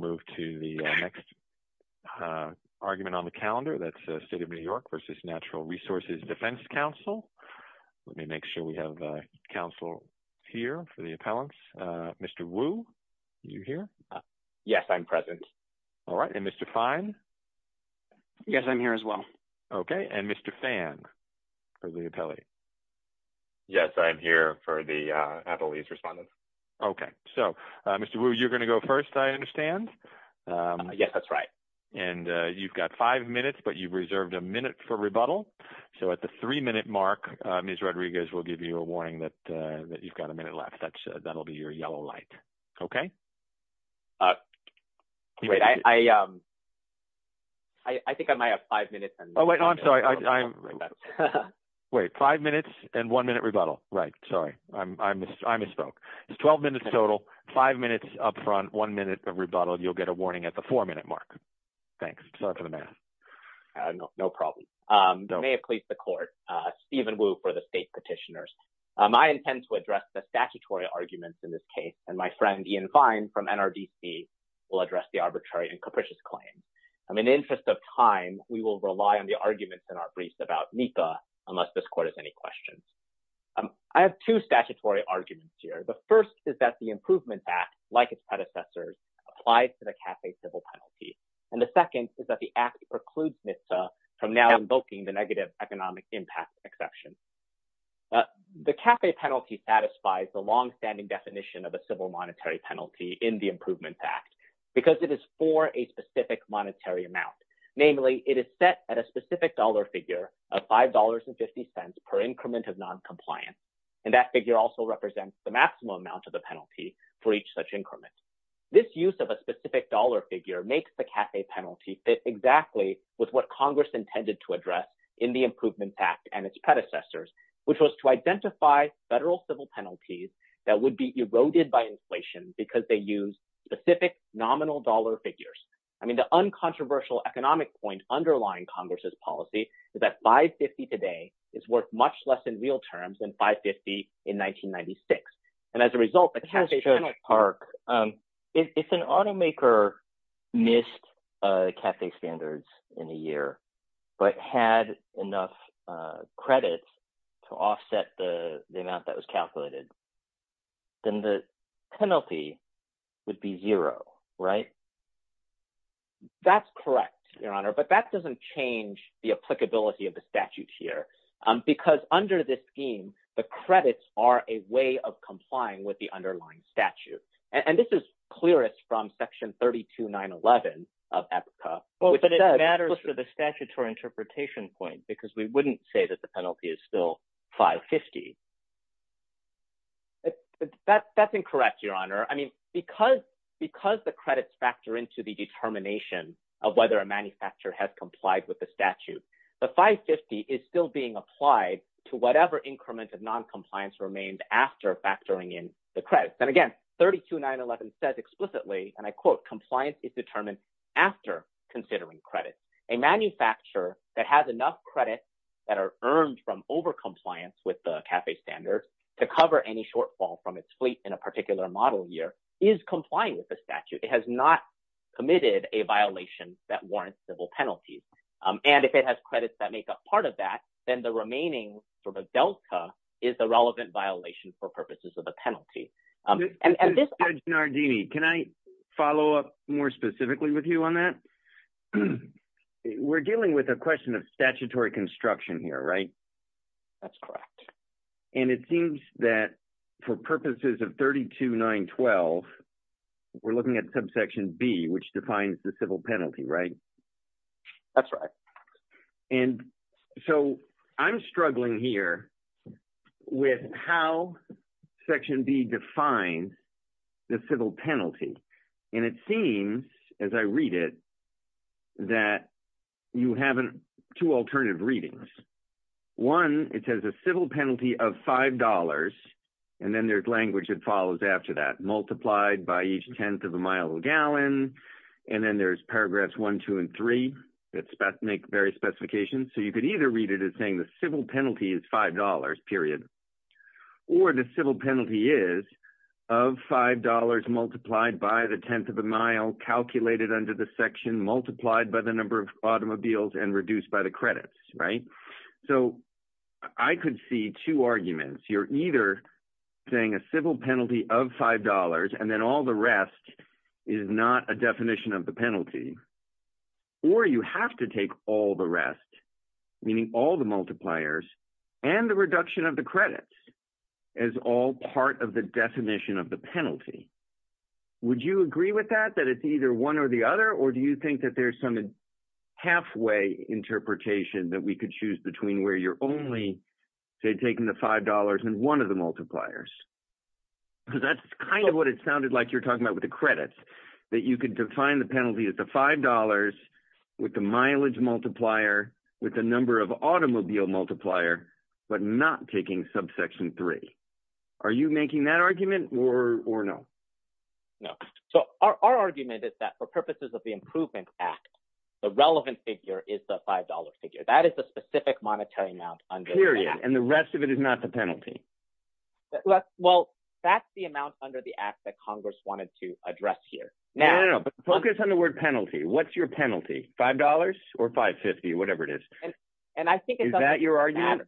Council. Mr. Wu, are you here? Yes, I am present. Mr. Fine? Yes, I am here as well. Mr. Phan? Yes, I am here for the Appalachian respondents. Okay, so Mr. Wu, you're going to go first, I understand? Yes, that's right. And you've got five minutes, but you've reserved a minute for rebuttal. So at the three-minute mark, Ms. Rodriguez will give you a warning that you've got a minute left. That'll be your yellow light, okay? Wait, I think I might have five minutes. Oh, wait, no, I'm sorry. Wait, five minutes and one minute rebuttal, right, sorry. I misspoke. It's 12 minutes total, five minutes up front, one minute of rebuttal. You'll get a warning at the four-minute mark. Thanks. Sorry for the mess. No problem. You may have pleased the Court. Stephen Wu for the state petitioners. I intend to address the statutory arguments in this case, and my friend Ian Fine from NRDC will address the arbitrary and capricious claim. In the interest of time, we will rely on the arguments in our briefs about NEPA unless this Court has any questions. I have two statutory arguments here. The first is that the Improvement Act, like its predecessors, applies to the CAFE civil penalty, and the second is that the Act precludes NEPA from now invoking the negative economic impact exception. The CAFE penalty satisfies the longstanding definition of a civil monetary penalty in the Improvement Act because it is for a specific monetary amount. Namely, it is set at a specific dollar figure of $5.50 per increment of noncompliance, and that figure also represents the maximum amount of the penalty for each such increment. This use of a specific dollar figure makes the CAFE penalty fit exactly with what Congress intended to address in the Improvement Act and its predecessors, which was to identify federal civil penalties that would be eroded by inflation because they use specific nominal dollar figures. I mean the uncontroversial economic point underlying Congress's policy is that $5.50 today is worth much less in real terms than $5.50 in 1996. And as a result, the CAFE penalty… This is Chuck Park. If an automaker missed CAFE standards in a year but had enough credit to offset the amount that was calculated, then the penalty would be zero, right? That's correct, Your Honor, but that doesn't change the applicability of the statute here because under this scheme, the credits are a way of complying with the underlying statute. And this is clearest from Section 32911 of APCA. But it matters for the statutory interpretation point because we wouldn't say that the penalty is still $5.50. That's incorrect, Your Honor. I mean because the credits factor into the determination of whether a manufacturer has complied with the statute, the $5.50 is still being applied to whatever increment of noncompliance remained after factoring in the credits. And again, 32911 says explicitly, and I quote, compliance is determined after considering credits. A manufacturer that has enough credits that are earned from overcompliance with the CAFE standards to cover any shortfall from its fleet in a particular model year is complying with the statute. It has not committed a violation that warrants civil penalties. And if it has credits that make up part of that, then the remaining sort of delta is the relevant violation for purposes of the penalty. Judge Nardini, can I follow up more specifically with you on that? We're dealing with a question of statutory construction here, right? That's correct. And it seems that for purposes of 32912, we're looking at subsection B, which defines the civil penalty, right? That's right. And so I'm struggling here with how section B defines the civil penalty. And it seems, as I read it, that you have two alternative readings. One, it says a civil penalty of $5. And then there's language that follows after that. Multiplied by each tenth of a mile per gallon. And then there's paragraphs one, two, and three that make various specifications. So you could either read it as saying the civil penalty is $5, period. Or the civil penalty is of $5 multiplied by the tenth of a mile calculated under the section multiplied by the number of automobiles and reduced by the credits, right? So I could see two arguments. You're either saying a civil penalty of $5, and then all the rest is not a definition of the penalty. Or you have to take all the rest, meaning all the multipliers, and the reduction of the credits as all part of the definition of the penalty. Would you agree with that, that it's either one or the other? Or do you think that there's some halfway interpretation that we could choose between where you're only, say, taking the $5 and one of the multipliers? Because that's kind of what it sounded like you were talking about with the credits, that you could define the penalty as the $5 with the mileage multiplier, with the number of automobile multiplier, but not taking subsection three. Are you making that argument or no? No. So our argument is that, for purposes of the Improvement Act, the relevant figure is the $5 figure. That is the specific monetary amount under the Act. Period. And the rest of it is not the penalty. Well, that's the amount under the Act that Congress wanted to address here. No, no, no. But focus on the word penalty. What's your penalty? $5 or $5.50? Whatever it is. Is that your argument?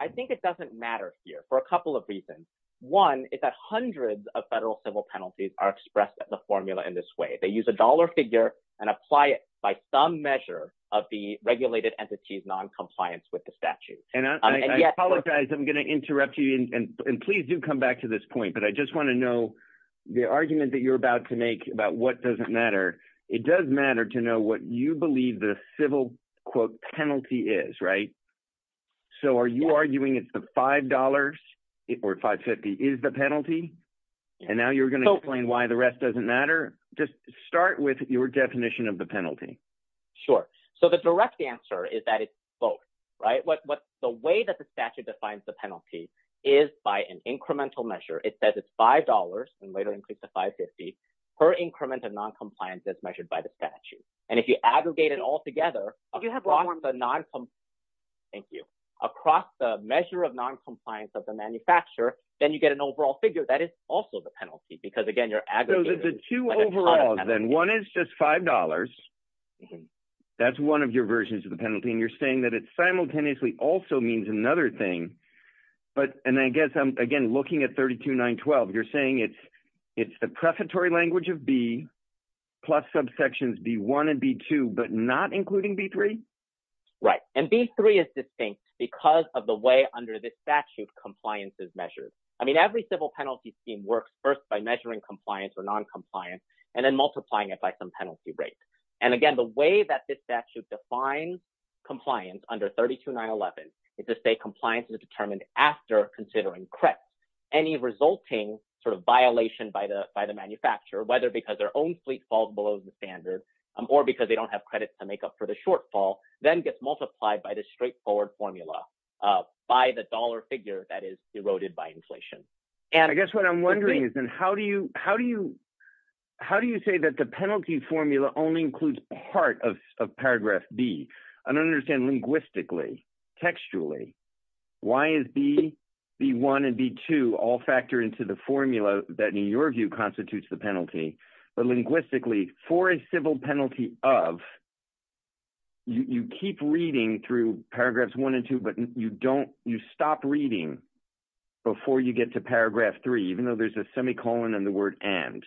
I think it doesn't matter here for a couple of reasons. One is that hundreds of federal civil penalties are expressed as a formula in this way. They use a dollar figure and apply it by some measure of the regulated entity's noncompliance with the statute. And I apologize. I'm going to interrupt you. And please do come back to this point. But I just want to know the argument that you're about to make about what doesn't matter. It does matter to know what you believe the civil, quote, penalty is, right? So are you arguing it's the $5 or $5.50 is the penalty? And now you're going to explain why the rest doesn't matter? Just start with your definition of the penalty. Sure. So the direct answer is that it's both, right? The way that the statute defines the penalty is by an incremental measure. It says it's $5 and later increased to $5.50 per increment of noncompliance as measured by the statute. And if you aggregate it all together across the measure of noncompliance of the manufacturer, then you get an overall figure that is also the penalty. So there's two overalls then. One is just $5. That's one of your versions of the penalty. And you're saying that it simultaneously also means another thing. And I guess I'm, again, looking at 32-912. You're saying it's the prefatory language of B plus subsections B-1 and B-2 but not including B-3? Right. And B-3 is distinct because of the way under the statute compliance is measured. I mean, every civil penalty scheme works first by measuring compliance or noncompliance and then multiplying it by some penalty rate. And, again, the way that this statute defines compliance under 32-911 is to say compliance is determined after considering credit. Any resulting sort of violation by the manufacturer, whether because their own fleet falls below the standard or because they don't have credits to make up for the shortfall, then gets multiplied by the straightforward formula by the dollar figure that is eroded by inflation. I guess what I'm wondering is then how do you say that the penalty formula only includes part of paragraph B? I don't understand linguistically, textually, why is B-1 and B-2 all factored into the formula that, in your view, constitutes the penalty? But linguistically, for a civil penalty of, you keep reading through paragraphs 1 and 2, but you stop reading before you get to paragraph 3, even though there's a semicolon in the word and.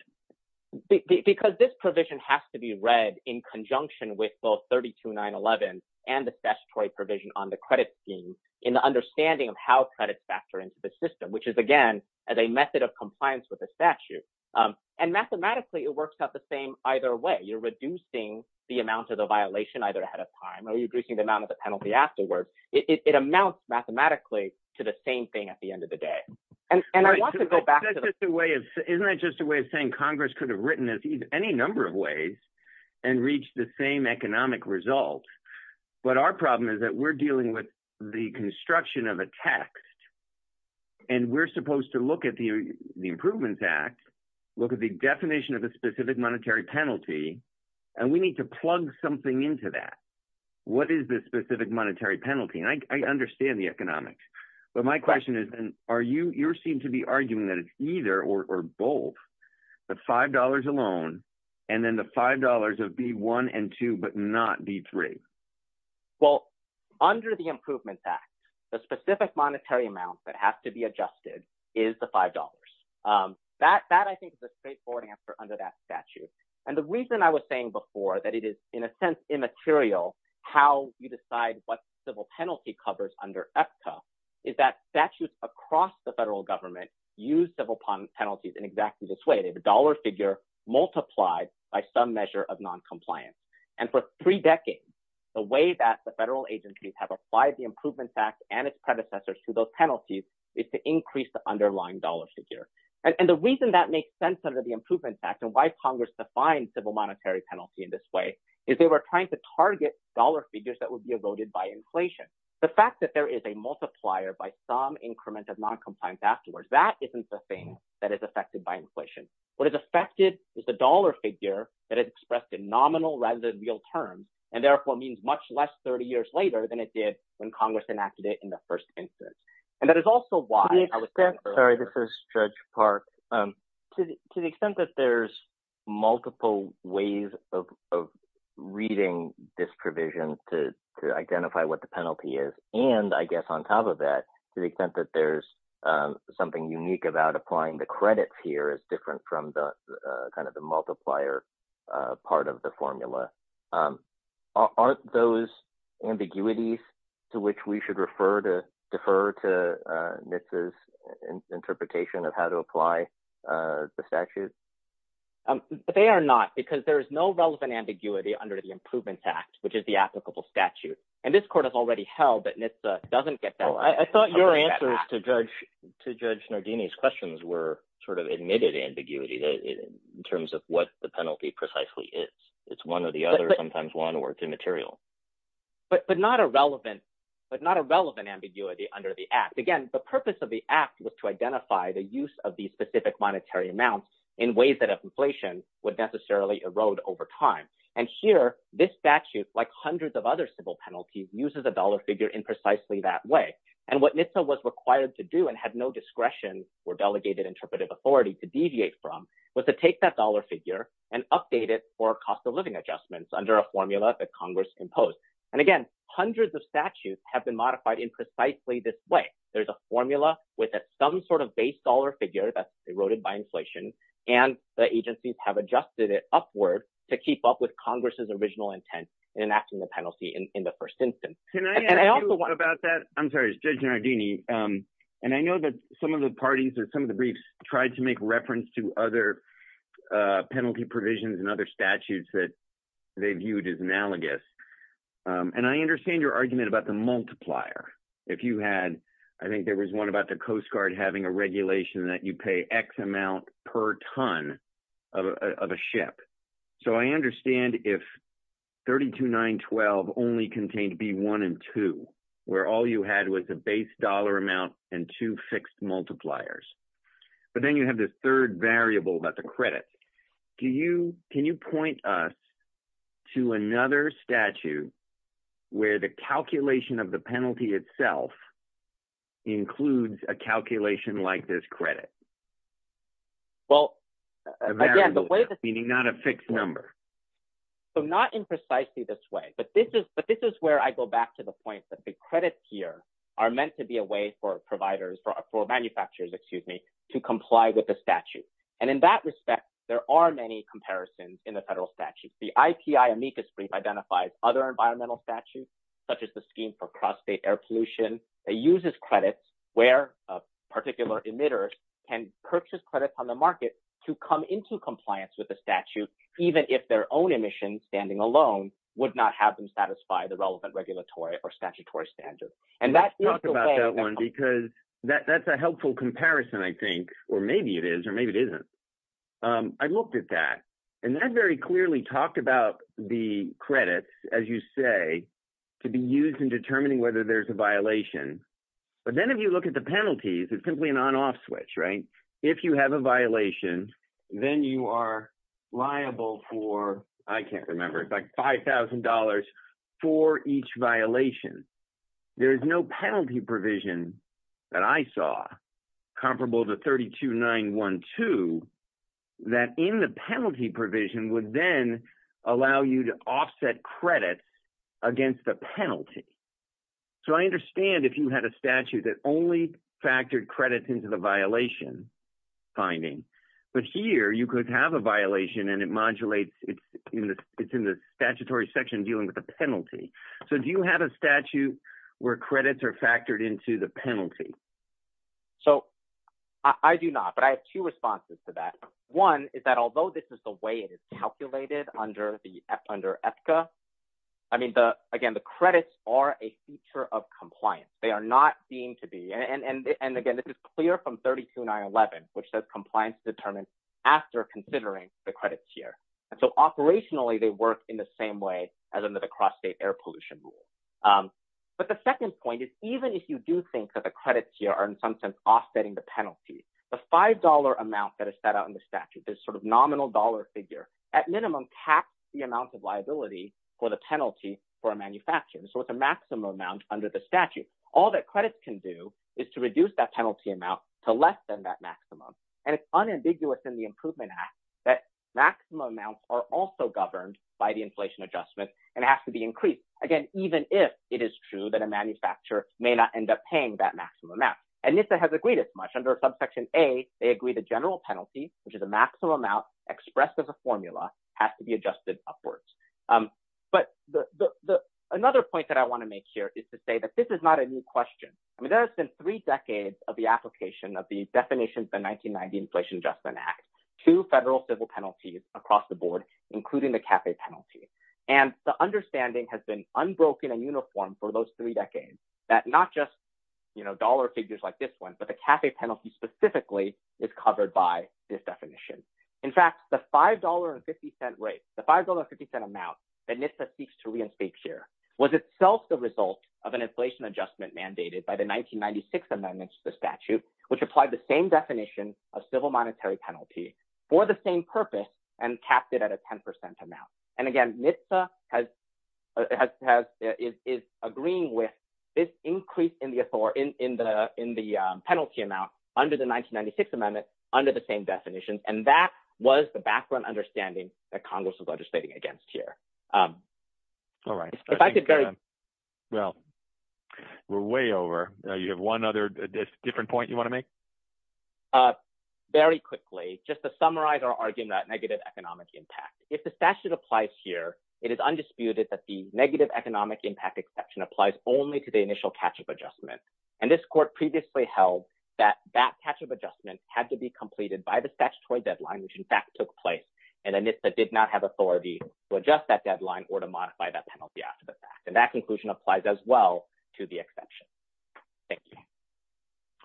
Because this provision has to be read in conjunction with both 32-911 and the statutory provision on the credit scheme in the understanding of how credits factor into the system, which is, again, as a method of compliance with the statute. And mathematically, it works out the same either way. You're reducing the amount of the violation either ahead of time or you're reducing the amount of the penalty afterwards. It amounts mathematically to the same thing at the end of the day. Isn't that just a way of saying Congress could have written this any number of ways and reached the same economic results? But our problem is that we're dealing with the construction of a text, and we're supposed to look at the Improvements Act, look at the definition of a specific monetary penalty, and we need to plug something into that. What is this specific monetary penalty? And I understand the economics. But my question is, are you – you seem to be arguing that it's either or both the $5 alone and then the $5 of B-1 and 2 but not B-3. Well, under the Improvements Act, the specific monetary amount that has to be adjusted is the $5. That, I think, is a straightforward answer under that statute. And the reason I was saying before that it is, in a sense, immaterial how you decide what civil penalty covers under EPCA is that statutes across the federal government use civil penalties in exactly this way. The dollar figure multiplied by some measure of noncompliance. And for three decades, the way that the federal agencies have applied the Improvements Act and its predecessors to those penalties is to increase the underlying dollar figure. And the reason that makes sense under the Improvements Act and why Congress defines civil monetary penalty in this way is they were trying to target dollar figures that would be eroded by inflation. The fact that there is a multiplier by some increment of noncompliance afterwards, that isn't the thing that is affected by inflation. What is affected is the dollar figure that is expressed in nominal rather than real terms and, therefore, means much less 30 years later than it did when Congress enacted it in the first instance. And that is also why— Sorry, this is Judge Park. To the extent that there's multiple ways of reading this provision to identify what the penalty is and, I guess, on top of that, to the extent that there's something unique about applying the credits here is different from the kind of the multiplier part of the formula. Aren't those ambiguities to which we should refer to defer to NHTSA's interpretation of how to apply the statute? They are not because there is no relevant ambiguity under the Improvements Act, which is the applicable statute. And this court has already held that NHTSA doesn't get that. I thought your answers to Judge Nardini's questions were sort of admitted ambiguity in terms of what the penalty precisely is. It's one or the other, sometimes one or it's immaterial. But not a relevant ambiguity under the act. Again, the purpose of the act was to identify the use of these specific monetary amounts in ways that inflation would necessarily erode over time. And here, this statute, like hundreds of other civil penalties, uses a dollar figure in precisely that way. And what NHTSA was required to do and had no discretion or delegated interpretive authority to deviate from was to take that dollar figure and update it for cost of living adjustments under a formula that Congress imposed. And again, hundreds of statutes have been modified in precisely this way. There's a formula with some sort of base dollar figure that's eroded by inflation, and the agencies have adjusted it upward to keep up with Congress's original intent in enacting the penalty in the first instance. Can I ask you about that? I'm sorry, Judge Nardini. And I know that some of the parties or some of the briefs tried to make reference to other penalty provisions and other statutes that they viewed as analogous. And I understand your argument about the multiplier. If you had – I think there was one about the Coast Guard having a regulation that you pay X amount per ton of a ship. So I understand if 32,912 only contained B1 and 2, where all you had was a base dollar amount and two fixed multipliers. But then you have this third variable about the credit. Can you point us to another statute where the calculation of the penalty itself includes a calculation like this credit? Well, again, the way – Meaning not a fixed number. So not in precisely this way, but this is where I go back to the point that the credits here are meant to be a way for providers – for manufacturers, excuse me, to comply with the statute. And in that respect, there are many comparisons in the federal statute. The IPI amicus brief identifies other environmental statutes, such as the scheme for cross-state air pollution. It uses credits where a particular emitter can purchase credits on the market to come into compliance with the statute, even if their own emissions standing alone would not have them satisfy the relevant regulatory or statutory standards. And that is the way – Let's talk about that one because that's a helpful comparison, I think, or maybe it is or maybe it isn't. I looked at that, and that very clearly talked about the credits, as you say, to be used in determining whether there's a violation. But then if you look at the penalties, it's simply an on-off switch, right? If you have a violation, then you are liable for – I can't remember. It's like $5,000 for each violation. There is no penalty provision that I saw comparable to 32-912 that in the penalty provision would then allow you to offset credits against the penalty. So I understand if you had a statute that only factored credits into the violation finding. But here you could have a violation, and it modulates – it's in the statutory section dealing with the penalty. So do you have a statute where credits are factored into the penalty? So I do not, but I have two responses to that. One is that although this is the way it is calculated under EPCA, I mean, again, the credits are a feature of compliance. They are not deemed to be – and again, this is clear from 32-911, which says compliance is determined after considering the credits here. And so operationally, they work in the same way as under the cross-state air pollution rule. But the second point is even if you do think that the credits here are in some sense offsetting the penalty, the $5 amount that is set out in the statute, this sort of nominal dollar figure, at minimum taxed the amount of liability for the penalty for a manufacturer. So it's a maximum amount under the statute. All that credits can do is to reduce that penalty amount to less than that maximum. And it's unambiguous in the Improvement Act that maximum amounts are also governed by the inflation adjustment and have to be increased. Again, even if it is true that a manufacturer may not end up paying that maximum amount. And NIFA has agreed as much. Under subsection A, they agree the general penalty, which is a maximum amount expressed as a formula, has to be adjusted upwards. But another point that I want to make here is to say that this is not a new question. I mean, there have been three decades of the application of the definition of the 1990 Inflation Adjustment Act to federal civil penalties across the board, including the CAFE penalty. And the understanding has been unbroken and uniform for those three decades that not just dollar figures like this one, but the CAFE penalty specifically is covered by this definition. In fact, the $5.50 rate, the $5.50 amount that NIFA seeks to reinstate here was itself the result of an inflation adjustment mandated by the 1996 amendments to the statute, which applied the same definition of civil monetary penalty for the same purpose and capped it at a 10% amount. And again, NIFA is agreeing with this increase in the penalty amount under the 1996 amendment under the same definition, and that was the background understanding that Congress was legislating against here. All right. Well, we're way over. You have one other different point you want to make? Very quickly, just to summarize our argument about negative economic impact. If the statute applies here, it is undisputed that the negative economic impact exception applies only to the initial catch-up adjustment. And this court previously held that that catch-up adjustment had to be completed by the statutory deadline, which in fact took place, and NIFA did not have authority to adjust that deadline or to modify that penalty after the fact. And that conclusion applies as well to the exception. Thank you.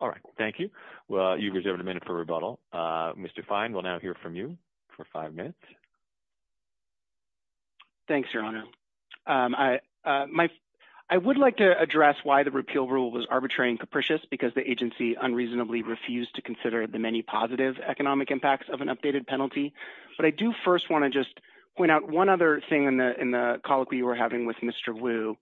All right. Thank you. Well, you've reserved a minute for rebuttal. Mr. Fine will now hear from you for five minutes. Thanks, Your Honor. I would like to address why the repeal rule was arbitrary and capricious, because the agency unreasonably refused to consider the many positive economic impacts of an updated penalty. But I do first want to just point out one other thing in the colloquy you were having with Mr. Wu,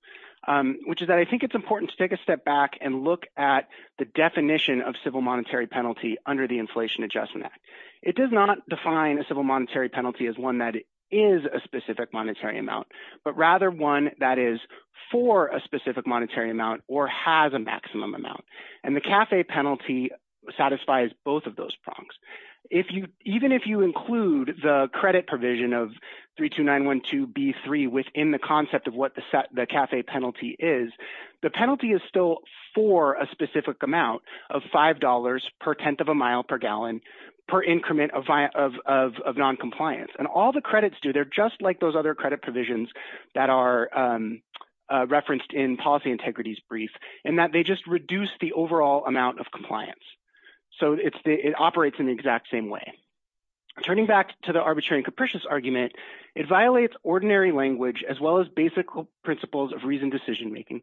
which is that I think it's important to take a step back and look at the definition of civil monetary penalty under the Inflation Adjustment Act. It does not define a civil monetary penalty as one that is a specific monetary amount, but rather one that is for a specific monetary amount or has a maximum amount. And the CAFE penalty satisfies both of those prongs. Even if you include the credit provision of 32912B3 within the concept of what the CAFE penalty is, the penalty is still for a specific amount of $5 per tenth of a mile per gallon per increment of noncompliance. And all the credits do, they're just like those other credit provisions that are referenced in Policy Integrity's brief, in that they just reduce the overall amount of compliance. So it operates in the exact same way. Turning back to the arbitrary and capricious argument, it violates ordinary language as well as basic principles of reasoned decision making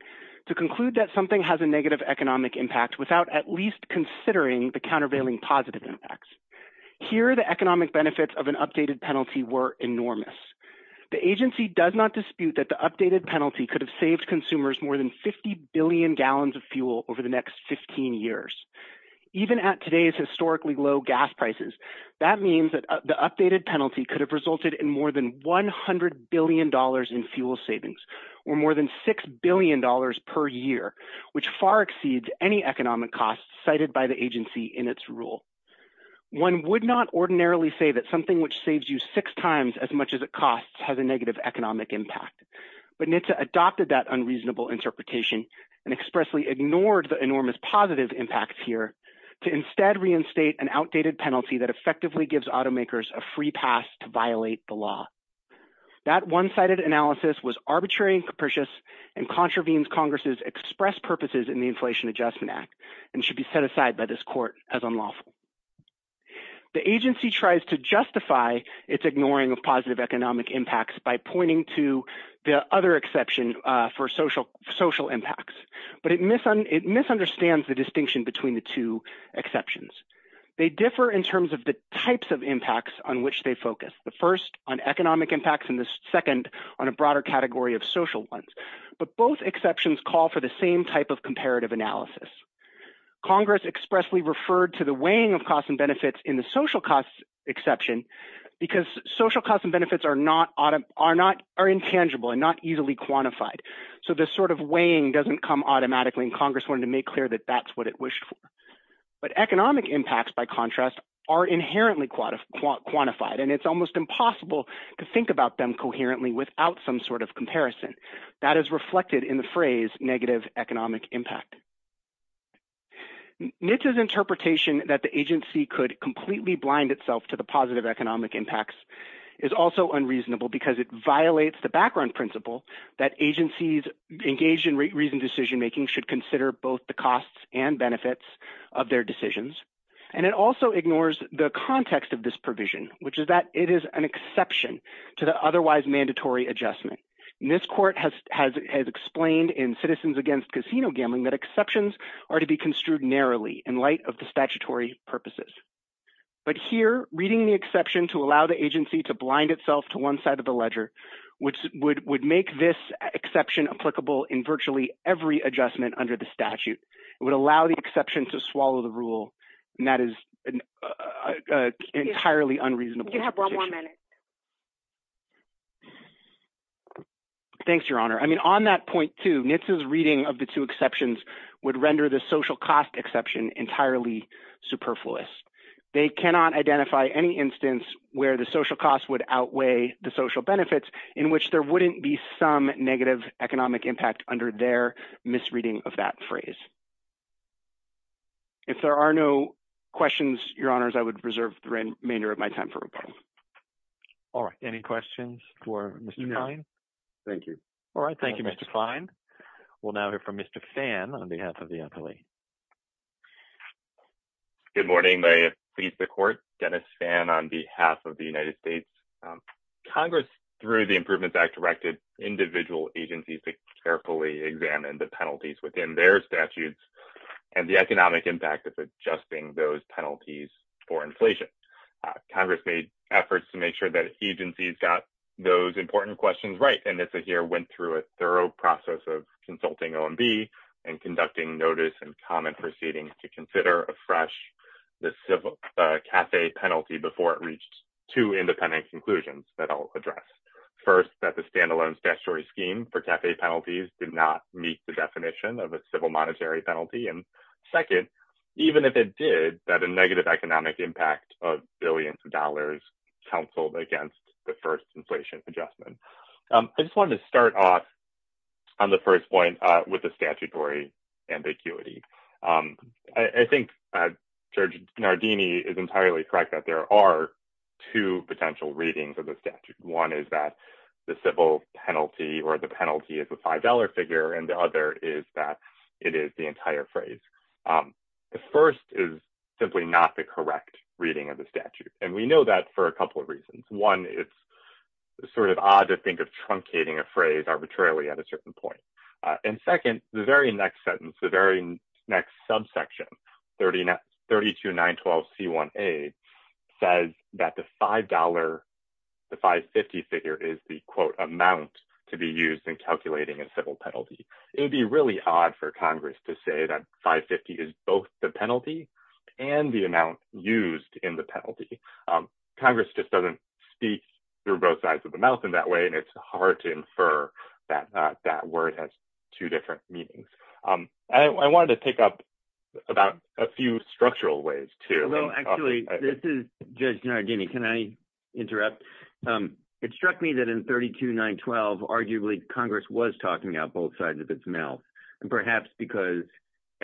to conclude that something has a negative economic impact without at least considering the countervailing positive impacts. Here the economic benefits of an updated penalty were enormous. The agency does not dispute that the updated penalty could have saved consumers more than 50 billion gallons of fuel over the next 15 years. Even at today's historically low gas prices, that means that the updated penalty could have resulted in more than $100 billion in fuel savings, or more than $6 billion per year, which far exceeds any economic costs cited by the agency in its rule. One would not ordinarily say that something which saves you six times as much as it costs has a negative economic impact. But NHTSA adopted that unreasonable interpretation and expressly ignored the enormous positive impacts here to instead reinstate an outdated penalty that effectively gives automakers a free pass to violate the law. That one-sided analysis was arbitrary and capricious and contravenes Congress's express purposes in the Inflation Adjustment Act and should be set aside by this court as unlawful. The agency tries to justify its ignoring of positive economic impacts by pointing to the other exception for social impacts, but it misunderstands the distinction between the two exceptions. They differ in terms of the types of impacts on which they focus, the first on economic impacts and the second on a broader category of social ones, but both exceptions call for the same type of comparative analysis. Congress expressly referred to the weighing of costs and benefits in the social costs exception because social costs and benefits are intangible and not easily quantified. So this sort of weighing doesn't come automatically and Congress wanted to make clear that that's what it wished for. But economic impacts, by contrast, are inherently quantified and it's almost impossible to think about them coherently without some sort of comparison. That is reflected in the phrase negative economic impact. NHTSA's interpretation that the agency could completely blind itself to the positive economic impacts is also unreasonable because it violates the background principle that agencies engaged in reasoned decision-making should consider both the costs and benefits of their decisions. And it also ignores the context of this provision, which is that it is an exception to the otherwise mandatory adjustment. This court has explained in Citizens Against Casino Gambling that exceptions are to be construed narrowly in light of the statutory purposes. But here, reading the exception to allow the agency to blind itself to one side of the ledger would make this exception applicable in virtually every adjustment under the statute. It would allow the exception to swallow the rule and that is entirely unreasonable. You have one more minute. Thanks, Your Honor. I mean, on that point, too, NHTSA's reading of the two exceptions would render the social cost exception entirely superfluous. They cannot identify any instance where the social cost would outweigh the social benefits in which there wouldn't be some negative economic impact under their misreading of that phrase. If there are no questions, Your Honors, I would reserve the remainder of my time for rebuttal. All right. Any questions for Mr. Kine? Thank you. All right. Thank you, Mr. Kine. We'll now hear from Mr. Phan on behalf of the NLE. Good morning. May it please the Court. Dennis Phan on behalf of the United States. Congress, through the Improvements Act, directed individual agencies to carefully examine the penalties within their statutes and the economic impact of adjusting those penalties for inflation. Congress made efforts to make sure that agencies got those important questions right. And NHTSA here went through a thorough process of consulting OMB and conducting notice and comment proceedings to consider afresh the CAFE penalty before it reached two independent conclusions that I'll address. First, that the standalone statutory scheme for CAFE penalties did not meet the definition of a civil monetary penalty. And second, even if it did, that a negative economic impact of billions of dollars counseled against the first inflation adjustment. I just wanted to start off on the first point with the statutory ambiguity. I think Judge Nardini is entirely correct that there are two potential readings of the statute. One is that the civil penalty or the penalty is a $5 figure and the other is that it is the entire phrase. The first is simply not the correct reading of the statute. And we know that for a couple of reasons. One, it's sort of odd to think of truncating a phrase arbitrarily at a certain point. And second, the very next sentence, the very next subsection, 32-912-C1A, says that the $5, the $5.50 figure is the quote amount to be used in calculating a civil penalty. It would be really odd for Congress to say that $5.50 is both the penalty and the amount used in the penalty. Congress just doesn't speak through both sides of the mouth in that way, and it's hard to infer that that word has two different meanings. I wanted to pick up about a few structural ways, too. Well, actually, this is Judge Nardini. Can I interrupt? It struck me that in 32-912, arguably Congress was talking out both sides of its mouth, perhaps because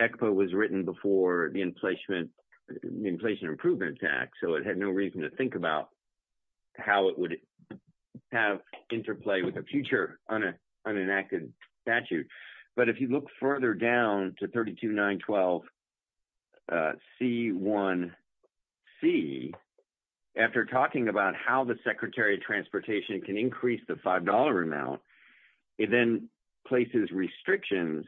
ECPA was written before the Inflation Improvement Act, so it had no reason to think about how it would have interplay with a future unenacted statute. But if you look further down to 32-912-C1C, after talking about how the Secretary of Transportation can increase the $5 amount, it then places restrictions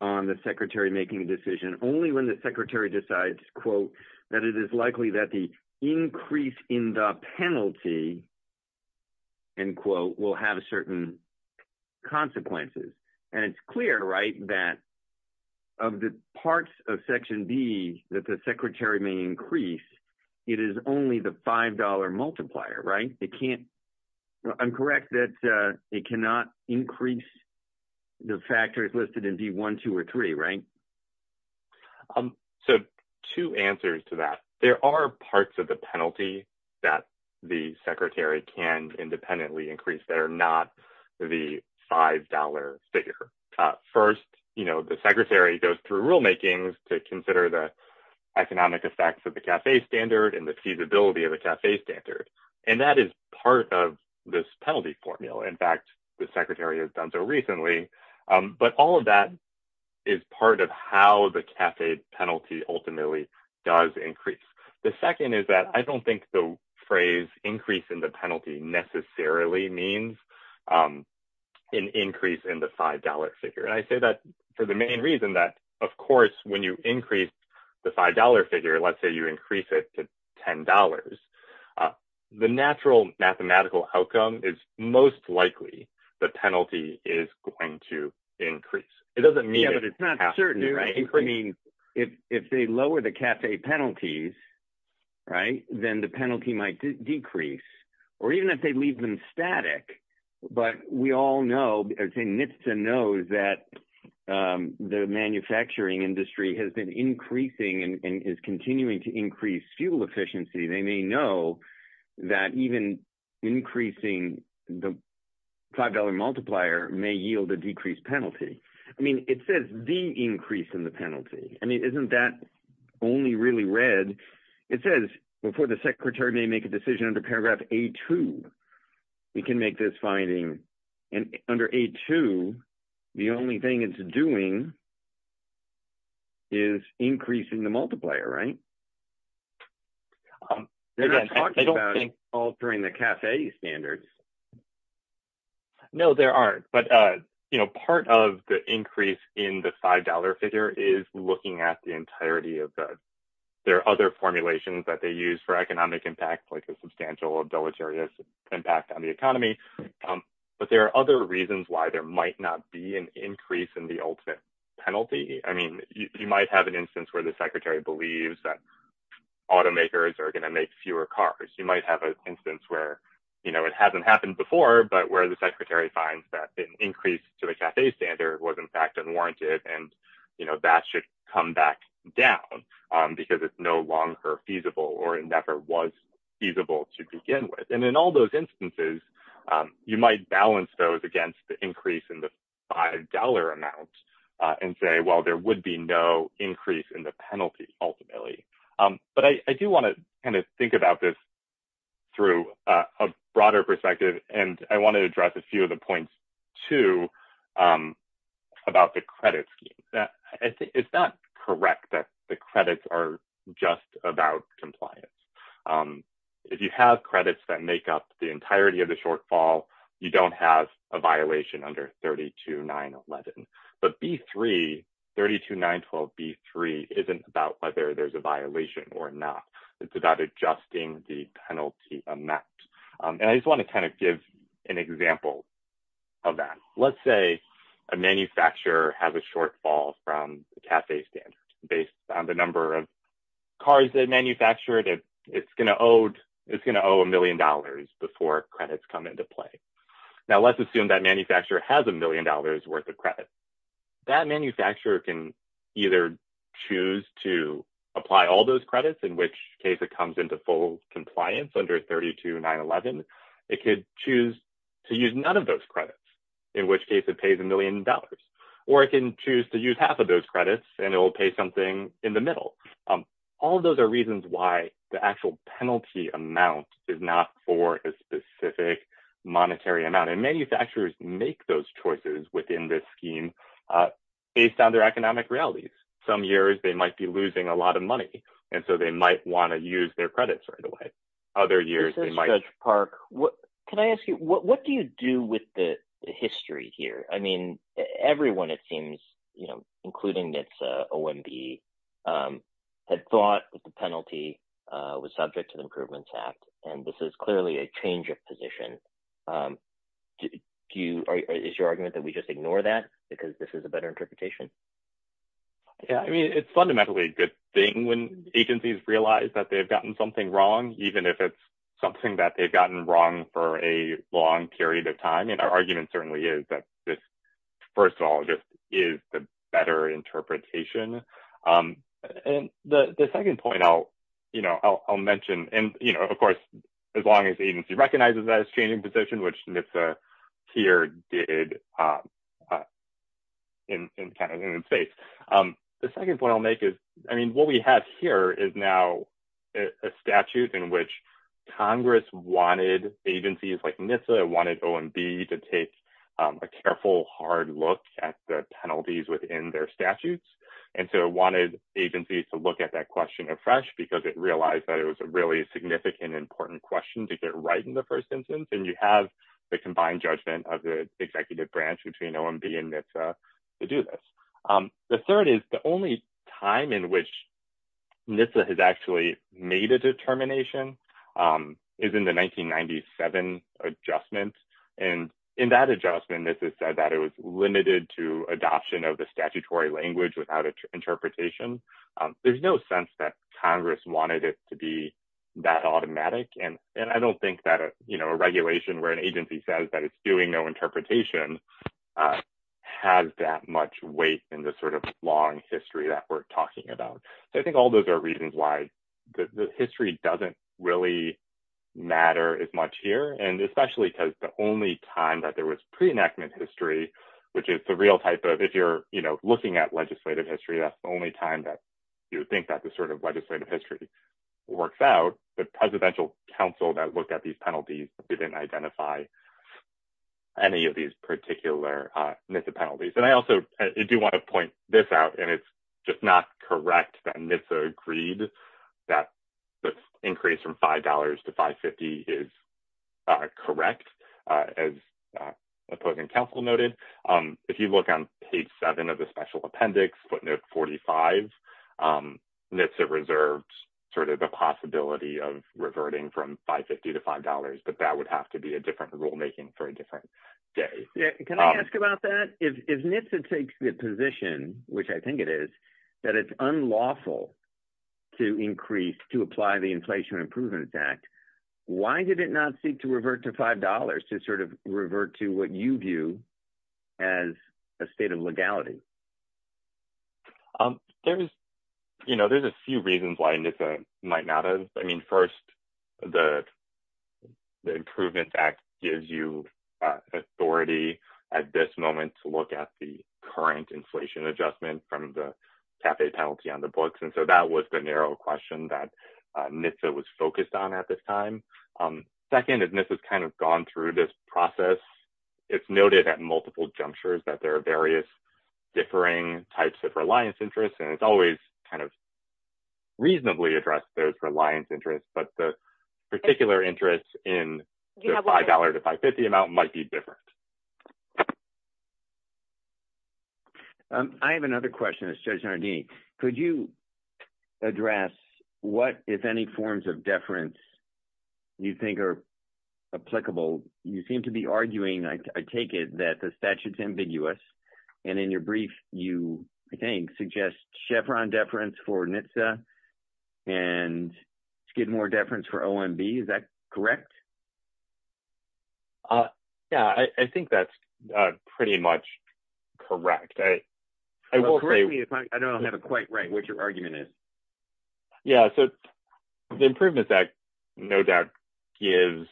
on the Secretary making a decision only when the Secretary decides, quote, that it is likely that the increase in the penalty, end quote, will have certain consequences. And it's clear, right, that of the parts of Section D that the Secretary may increase, it is only the $5 multiplier, right? It can't – I'm correct that it cannot increase the factors listed in D-1, 2, or 3, right? So two answers to that. There are parts of the penalty that the Secretary can independently increase that are not the $5 figure. First, you know, the Secretary goes through rulemaking to consider the economic effects of the CAFE standard and the feasibility of the CAFE standard, and that is part of this penalty formula. In fact, the Secretary has done so recently. But all of that is part of how the CAFE penalty ultimately does increase. The second is that I don't think the phrase increase in the penalty necessarily means an increase in the $5 figure. And I say that for the main reason that, of course, when you increase the $5 figure, let's say you increase it to $10, the natural mathematical outcome is most likely the penalty is going to increase. Yeah, but it's not certain. I mean, if they lower the CAFE penalties, right, then the penalty might decrease, or even if they leave them static. But we all know – I would say NHTSA knows that the manufacturing industry has been increasing and is continuing to increase fuel efficiency. They may know that even increasing the $5 multiplier may yield a decreased penalty. I mean, it says the increase in the penalty. I mean, isn't that only really read – it says before the Secretary may make a decision under paragraph A-2. He can make this finding. And under A-2, the only thing it's doing is increasing the multiplier, right? They're not talking about altering the CAFE standards. No, there aren't. But, you know, part of the increase in the $5 figure is looking at the entirety of the – there are other formulations that they use for economic impact, like a substantial or deleterious impact on the economy. But there are other reasons why there might not be an increase in the ultimate penalty. I mean, you might have an instance where the Secretary believes that automakers are going to make fewer cars. You might have an instance where, you know, it hasn't happened before, but where the Secretary finds that an increase to the CAFE standard was, in fact, unwarranted. And, you know, that should come back down because it's no longer feasible or it never was feasible to begin with. And in all those instances, you might balance those against the increase in the $5 amount and say, well, there would be no increase in the penalty ultimately. But I do want to kind of think about this through a broader perspective, and I want to address a few of the points, too, about the credit scheme. It's not correct that the credits are just about compliance. If you have credits that make up the entirety of the shortfall, you don't have a violation under 32-911. But B-3, 32-912-B-3, isn't about whether there's a violation or not. It's about adjusting the penalty amount. And I just want to kind of give an example of that. Let's say a manufacturer has a shortfall from the CAFE standard based on the number of cars they manufactured. It's going to owe a million dollars before credits come into play. Now, let's assume that manufacturer has a million dollars worth of credit. That manufacturer can either choose to apply all those credits, in which case it comes into full compliance under 32-911. It could choose to use none of those credits, in which case it pays a million dollars. Or it can choose to use half of those credits, and it will pay something in the middle. All of those are reasons why the actual penalty amount is not for a specific monetary amount. And manufacturers make those choices within this scheme based on their economic realities. Some years, they might be losing a lot of money, and so they might want to use their credits right away. Judge Park, can I ask you, what do you do with the history here? I mean, everyone, it seems, including NHTSA, OMB, had thought that the penalty was subject to the Improvements Act. And this is clearly a change of position. Is your argument that we just ignore that because this is a better interpretation? Yeah, I mean, it's fundamentally a good thing when agencies realize that they've gotten something wrong, even if it's something that they've gotten wrong for a long period of time. And our argument certainly is that this, first of all, just is a better interpretation. And the second point I'll mention, and of course, as long as the agency recognizes that it's changing position, which NHTSA here did in the United States. The second point I'll make is, I mean, what we have here is now a statute in which Congress wanted agencies like NHTSA, wanted OMB to take a careful, hard look at the penalties within their statutes. And so it wanted agencies to look at that question afresh because it realized that it was a really significant, important question to get right in the first instance. And you have the combined judgment of the executive branch between OMB and NHTSA to do this. The third is the only time in which NHTSA has actually made a determination is in the 1997 adjustment. And in that adjustment, NHTSA said that it was limited to adoption of the statutory language without interpretation. There's no sense that Congress wanted it to be that automatic. And I don't think that a regulation where an agency says that it's doing no interpretation has that much weight in the sort of long history that we're talking about. So I think all those are reasons why the history doesn't really matter as much here. And especially because the only time that there was pre-enactment history, which is the real type of if you're looking at legislative history, that's the only time that you would think that this sort of legislative history works out. But presidential counsel that looked at these penalties didn't identify any of these particular NHTSA penalties. And I also do want to point this out, and it's just not correct that NHTSA agreed that the increase from $5 to $5.50 is correct, as opposing counsel noted. If you look on page seven of the special appendix, footnote 45, NHTSA reserved sort of the possibility of reverting from $5.50 to $5.00. But that would have to be a different rulemaking for a different day. Can I ask about that? If NHTSA takes the position, which I think it is, that it's unlawful to increase – to apply the Inflation Improvement Act, why did it not seek to revert to $5.00 to sort of revert to what you view as a state of legality? There's a few reasons why NHTSA might not have – I mean, first, the Improvement Act gives you authority at this moment to look at the current inflation adjustment from the CAFE penalty on the books. And so that was the narrow question that NHTSA was focused on at this time. Second, and this has kind of gone through this process, it's noted at multiple junctures that there are various differing types of reliance interests, and it's always kind of reasonably addressed those reliance interests. But the particular interest in the $5.00 to $5.50 amount might be different. I have another question. It's Judge Nardini. Could you address what, if any, forms of deference you think are applicable? You seem to be arguing, I take it, that the statute's ambiguous, and in your brief you, I think, suggest Chevron deference for NHTSA and Skidmore deference for OMB. Is that correct? Yeah, I think that's pretty much correct. I will say – Correct me if I don't have it quite right, what your argument is. Yeah, so the Improvements Act no doubt gives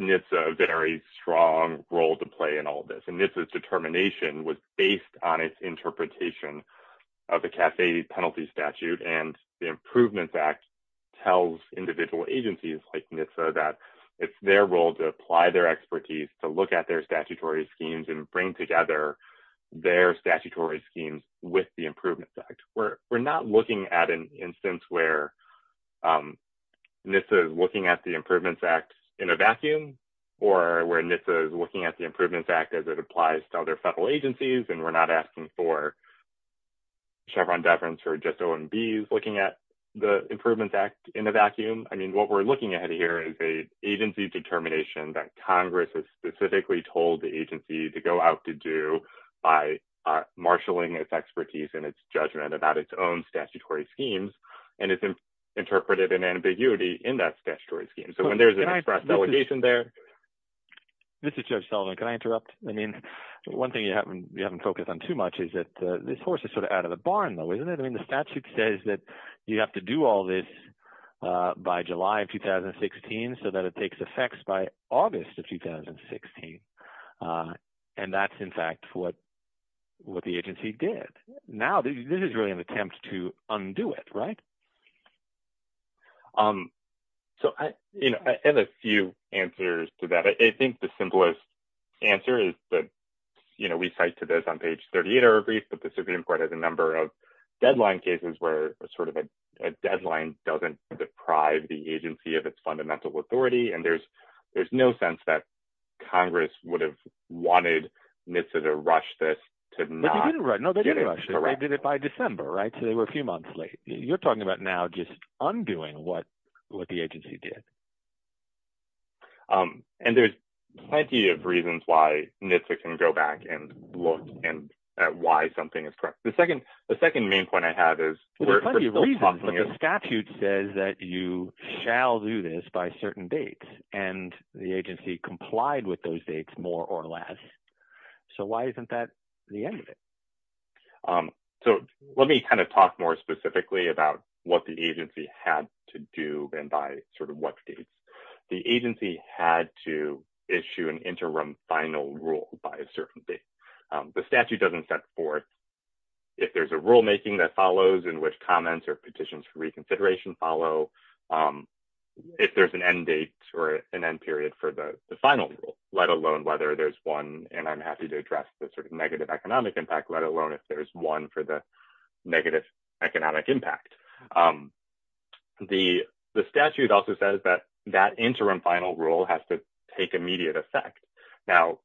NHTSA a very strong role to play in all this. And NHTSA's determination was based on its interpretation of the CAFE penalty statute. And the Improvements Act tells individual agencies like NHTSA that it's their role to apply their expertise, to look at their statutory schemes, and bring together their statutory schemes with the Improvements Act. We're not looking at an instance where NHTSA is looking at the Improvements Act in a vacuum, or where NHTSA is looking at the Improvements Act as it applies to other federal agencies, and we're not asking for Chevron deference or just OMBs looking at the Improvements Act in a vacuum. I mean what we're looking at here is an agency determination that Congress has specifically told the agency to go out to do by marshaling its expertise and its judgment about its own statutory schemes, and it's interpreted in ambiguity in that statutory scheme. So when there's an express delegation there – This is Judge Sullivan. Can I interrupt? I mean one thing you haven't focused on too much is that this horse is sort of out of the barn though, isn't it? I mean the statute says that you have to do all this by July of 2016 so that it takes effect by August of 2016, and that's in fact what the agency did. Now this is really an attempt to undo it, right? So I – And a few answers to that. I think the simplest answer is that we cite to this on page 38 of our brief that the Supreme Court has a number of deadline cases where sort of a deadline doesn't deprive the agency of its fundamental authority, and there's no sense that Congress would have wanted NHTSA to rush this to not get it correct. They did it by December, right? So they were a few months late. You're talking about now just undoing what the agency did. And there's plenty of reasons why NHTSA can go back and look at why something is correct. The second main point I have is – There's plenty of reasons, but the statute says that you shall do this by certain dates, and the agency complied with those dates more or less. So why isn't that the end of it? So let me kind of talk more specifically about what the agency had to do and by sort of what dates. The agency had to issue an interim final rule by a certain date. The statute doesn't set forth if there's a rulemaking that follows in which comments or petitions for reconsideration follow, if there's an end date or an end period for the final rule, let alone whether there's one, and I'm happy to address the sort of negative economic impact, let alone if there's one for the negative economic impact. The statute also says that that interim final rule has to take immediate effect. Now,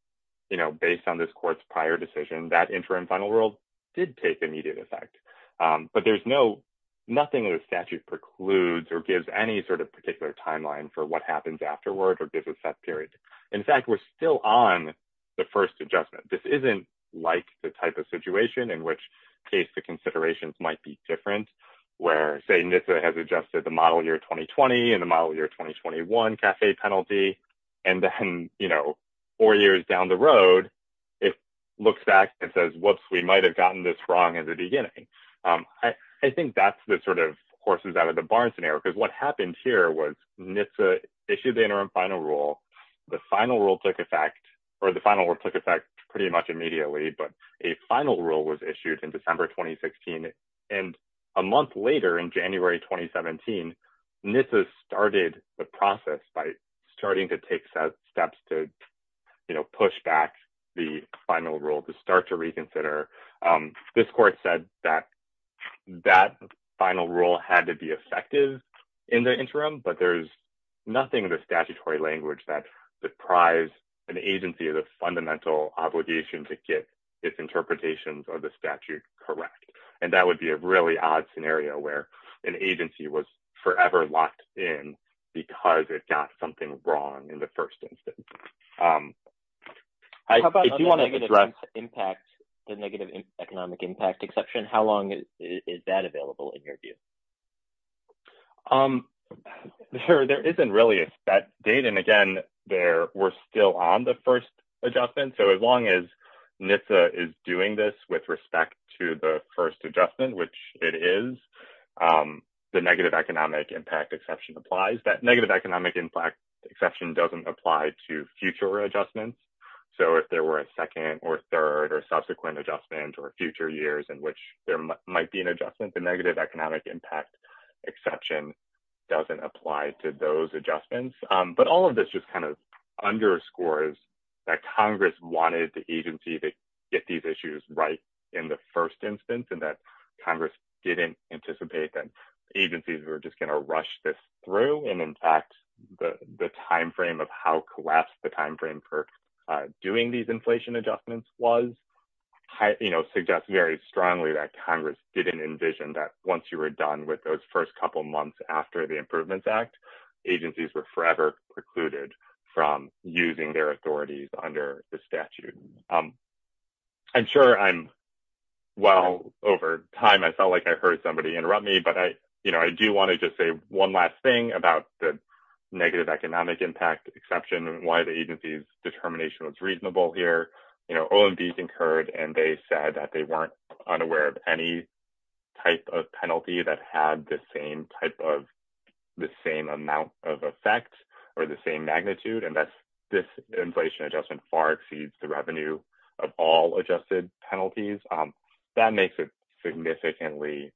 you know, based on this court's prior decision, that interim final rule did take immediate effect. But there's no – nothing in the statute precludes or gives any sort of particular timeline for what happens afterward or gives a set period. In fact, we're still on the first adjustment. This isn't like the type of situation in which case the considerations might be different, where say NHTSA has adjusted the model year 2020 and the model year 2021 CAFE penalty, and then, you know, four years down the road, it looks back and says, whoops, we might have gotten this wrong in the beginning. I think that's the sort of horses out of the barn scenario, because what happened here was NHTSA issued the interim final rule. The final rule took effect – or the final rule took effect pretty much immediately, but a final rule was issued in December 2016. And a month later, in January 2017, NHTSA started the process by starting to take steps to, you know, push back the final rule to start to reconsider. This court said that that final rule had to be effective in the interim, but there's nothing in the statutory language that deprives an agency of the fundamental obligation to get its interpretations of the statute correct. And that would be a really odd scenario where an agency was forever locked in because it got something wrong in the first instance. How about the negative economic impact exception? How long is that available, in your view? There isn't really a set date, and again, we're still on the first adjustment. So, as long as NHTSA is doing this with respect to the first adjustment, which it is, the negative economic impact exception applies. The problem is that negative economic impact exception doesn't apply to future adjustments. So, if there were a second or third or subsequent adjustment or future years in which there might be an adjustment, the negative economic impact exception doesn't apply to those adjustments. But all of this just kind of underscores that Congress wanted the agency to get these issues right in the first instance, and that Congress didn't anticipate that agencies were just going to rush this through. And, in fact, the timeframe of how collapsed the timeframe for doing these inflation adjustments was suggests very strongly that Congress didn't envision that once you were done with those first couple months after the Improvements Act, agencies were forever precluded from using their authorities under the statute. I'm sure I'm well over time. I felt like I heard somebody interrupt me, but I do want to just say one last thing about the negative economic impact exception and why the agency's determination was reasonable here. You know, OMB concurred, and they said that they weren't unaware of any type of penalty that had the same type of – the same amount of effect or the same magnitude, and that this inflation adjustment far exceeds the revenue of all adjusted penalties. That makes it significantly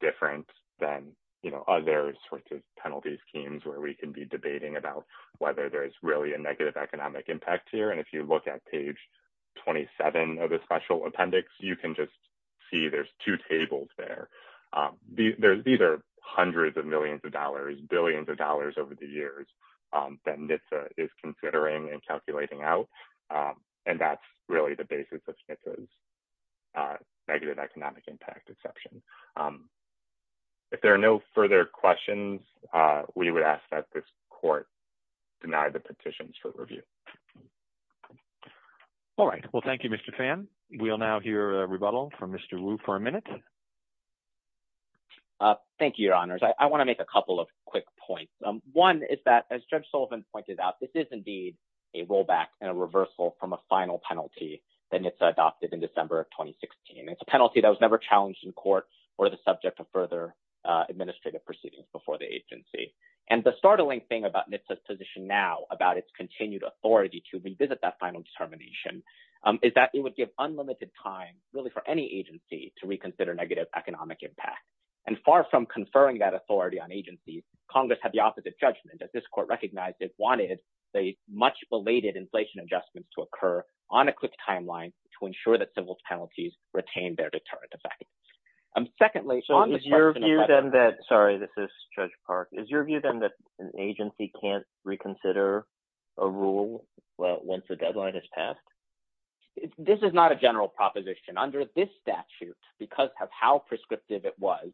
different than, you know, other sorts of penalty schemes where we can be debating about whether there's really a negative economic impact here. And if you look at page 27 of the Special Appendix, you can just see there's two tables there. These are hundreds of millions of dollars, billions of dollars over the years that NHTSA is considering and calculating out, and that's really the basis of NHTSA's negative economic impact exception. If there are no further questions, we would ask that this court deny the petitions for review. All right. Well, thank you, Mr. Phan. We will now hear a rebuttal from Mr. Wu for a minute. Thank you, Your Honors. I want to make a couple of quick points. One is that, as Judge Sullivan pointed out, this is indeed a rollback and a reversal from a final penalty that NHTSA adopted in December of 2016. It's a penalty that was never challenged in court or the subject of further administrative proceedings before the agency. And the startling thing about NHTSA's position now about its continued authority to revisit that final determination is that it would give unlimited time, really, for any agency to reconsider negative economic impact. And far from conferring that authority on agencies, Congress had the opposite judgment, as this court recognized it wanted the much-belated inflation adjustments to occur on a quick timeline to ensure that civil penalties retain their deterrent effect. So, is your view, then, that—sorry, this is Judge Park—is your view, then, that an agency can't reconsider a rule once a deadline is passed? This is not a general proposition. Under this statute, because of how prescriptive it was,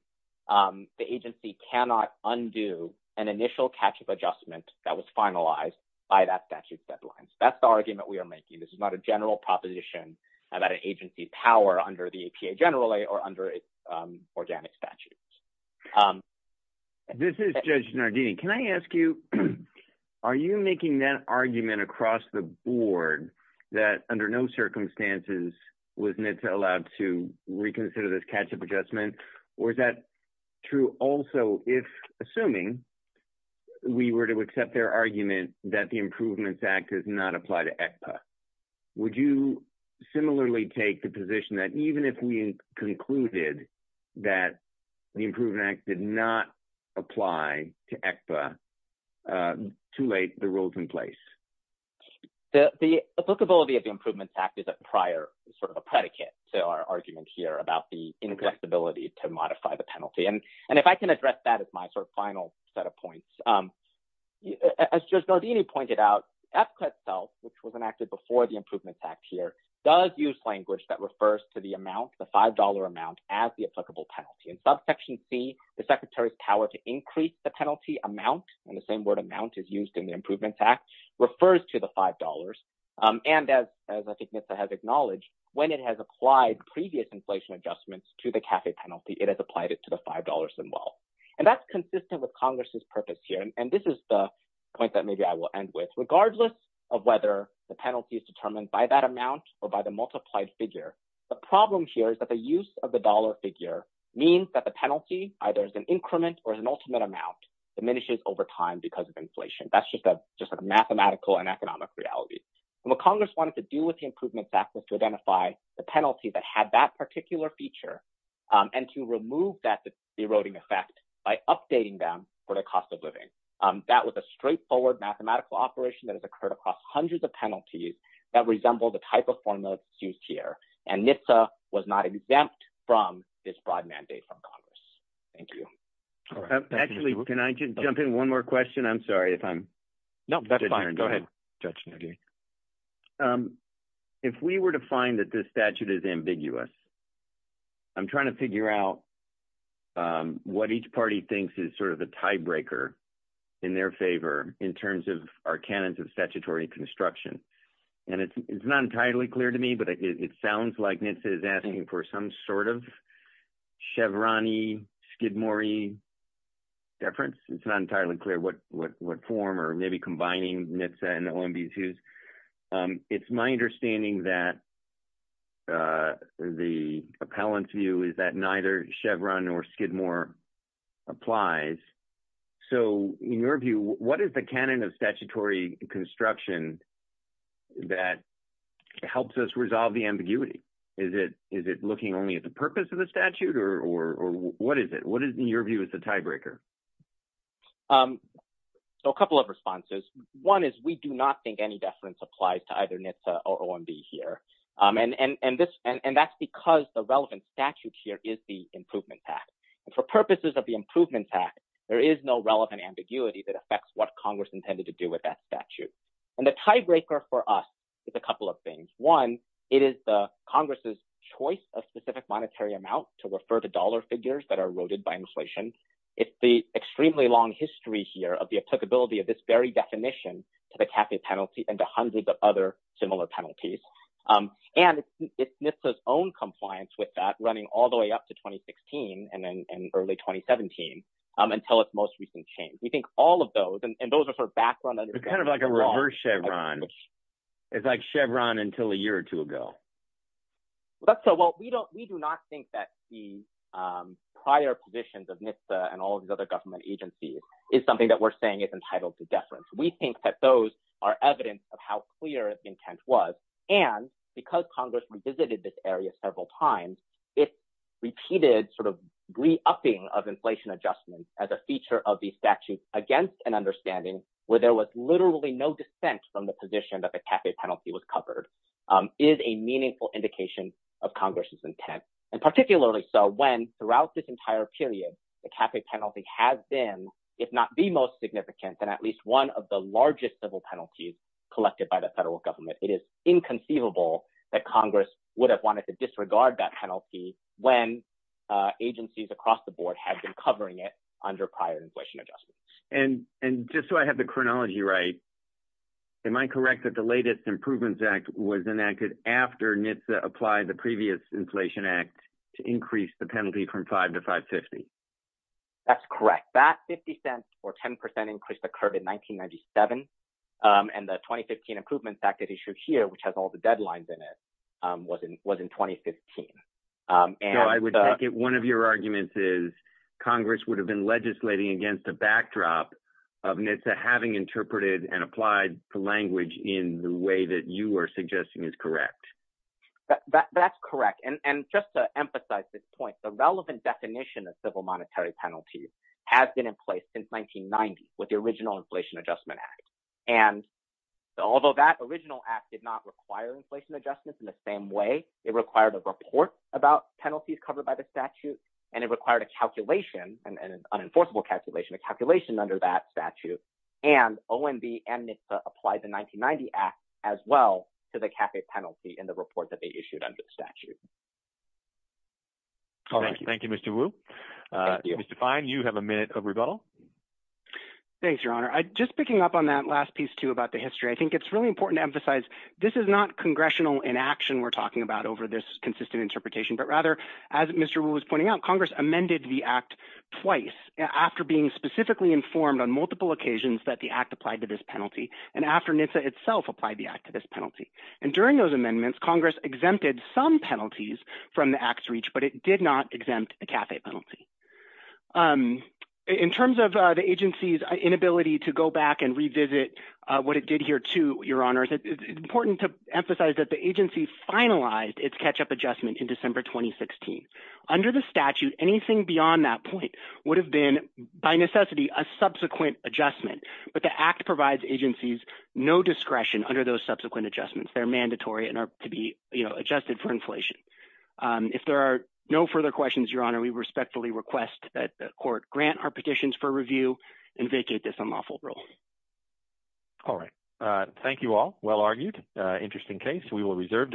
the agency cannot undo an initial catch-up adjustment that was finalized by that statute's deadline. That's the argument we are making. This is not a general proposition about an agency's power under the APA generally or under organic statutes. This is Judge Nardini. Can I ask you, are you making that argument across the board that under no circumstances was NHTSA allowed to reconsider this catch-up adjustment, or is that true also if, assuming we were to accept their argument that the Improvements Act does not apply to APA? Would you similarly take the position that even if we concluded that the Improvements Act did not apply to APA, too late, the rule is in place? The applicability of the Improvements Act is a prior sort of a predicate to our argument here about the ineffectibility to modify the penalty. And if I can address that as my sort of final set of points, as Judge Nardini pointed out, APCA itself, which was enacted before the Improvements Act here, does use language that refers to the amount, the $5 amount, as the applicable penalty. In Subsection C, the Secretary's power to increase the penalty amount, and the same word amount is used in the Improvements Act, refers to the $5. And as I think NHTSA has acknowledged, when it has applied previous inflation adjustments to the CAFE penalty, it has applied it to the $5 as well. And that's consistent with Congress's purpose here. And this is the point that maybe I will end with. Regardless of whether the penalty is determined by that amount or by the multiplied figure, the problem here is that the use of the dollar figure means that the penalty, either as an increment or as an ultimate amount, diminishes over time because of inflation. That's just a mathematical and economic reality. And what Congress wanted to do with the Improvements Act was to identify the penalty that had that particular feature and to remove that eroding effect by updating them for the cost of living. That was a straightforward mathematical operation that has occurred across hundreds of penalties that resemble the type of formula that's used here. And NHTSA was not exempt from this broad mandate from Congress. Thank you. Actually, can I just jump in one more question? I'm sorry if I'm... No, that's fine. Go ahead, Judge McGee. If we were to find that this statute is ambiguous, I'm trying to figure out what each party thinks is sort of the tiebreaker in their favor in terms of our canons of statutory construction. And it's not entirely clear to me, but it sounds like NHTSA is asking for some sort of Chevron-y, Skidmore-y difference. It's not entirely clear what form or maybe combining NHTSA and OMB's views. It's my understanding that the appellant's view is that neither Chevron nor Skidmore applies. So in your view, what is the canon of statutory construction that helps us resolve the ambiguity? Is it looking only at the purpose of the statute, or what is it? What is, in your view, is the tiebreaker? So a couple of responses. One is we do not think any deference applies to either NHTSA or OMB here. And that's because the relevant statute here is the Improvement Act. And for purposes of the Improvement Act, there is no relevant ambiguity that affects what Congress intended to do with that statute. And the tiebreaker for us is a couple of things. One, it is Congress's choice of specific monetary amount to refer to dollar figures that are eroded by inflation. It's the extremely long history here of the applicability of this very definition to the CAFE penalty and to hundreds of other similar penalties. And it's NHTSA's own compliance with that running all the way up to 2016 and early 2017 until its most recent change. We think all of those, and those are sort of background… It's kind of like a reverse Chevron. It's like Chevron until a year or two ago. Well, we do not think that the prior positions of NHTSA and all of these other government agencies is something that we're saying is entitled to deference. So, to say that there was a penalty against an understanding where there was literally no dissent from the position that the CAFE penalty was covered is a meaningful indication of Congress's intent. And particularly so when throughout this entire period, the CAFE penalty has been, if not the most significant, then at least one of the largest civil penalties collected by the federal government. It is inconceivable that Congress would have wanted to disregard that penalty when agencies across the board have been covering it under prior inflation adjustments. And just so I have the chronology right, am I correct that the latest Improvements Act was enacted after NHTSA applied the previous Inflation Act to increase the penalty from 5 to 550? That's correct. That $0.50 or 10% increase occurred in 1997, and the 2015 Improvements Act that issued here, which has all the deadlines in it, was in 2015. So I would take it one of your arguments is Congress would have been legislating against a backdrop of NHTSA having interpreted and applied the language in the way that you are suggesting is correct. That's correct. And just to emphasize this point, the relevant definition of civil monetary penalties has been in place since 1990 with the original Inflation Adjustment Act. And although that original act did not require inflation adjustments in the same way, it required a report about penalties covered by the statute, and it required a calculation, an unenforceable calculation, a calculation under that statute. And OMB and NHTSA applied the 1990 Act as well to the CAFE penalty in the report that they issued under the statute. All right. Thank you, Mr. Wu. Mr. Fine, you have a minute of rebuttal. Thanks, Your Honor. Just picking up on that last piece, too, about the history, I think it's really important to emphasize this is not congressional inaction we're talking about over this consistent interpretation. But rather, as Mr. Wu was pointing out, Congress amended the act twice after being specifically informed on multiple occasions that the act applied to this penalty, and after NHTSA itself applied the act to this penalty. And during those amendments, Congress exempted some penalties from the act's reach, but it did not exempt the CAFE penalty. In terms of the agency's inability to go back and revisit what it did here, too, Your Honor, it's important to emphasize that the agency finalized its catch-up adjustment in December 2016. Under the statute, anything beyond that point would have been, by necessity, a subsequent adjustment. But the act provides agencies no discretion under those subsequent adjustments. They're mandatory and are to be adjusted for inflation. If there are no further questions, Your Honor, we respectfully request that the Court grant our petitions for review and vacate this unlawful rule. All right. Thank you all. Well argued. Interesting case. We will reserve the floor.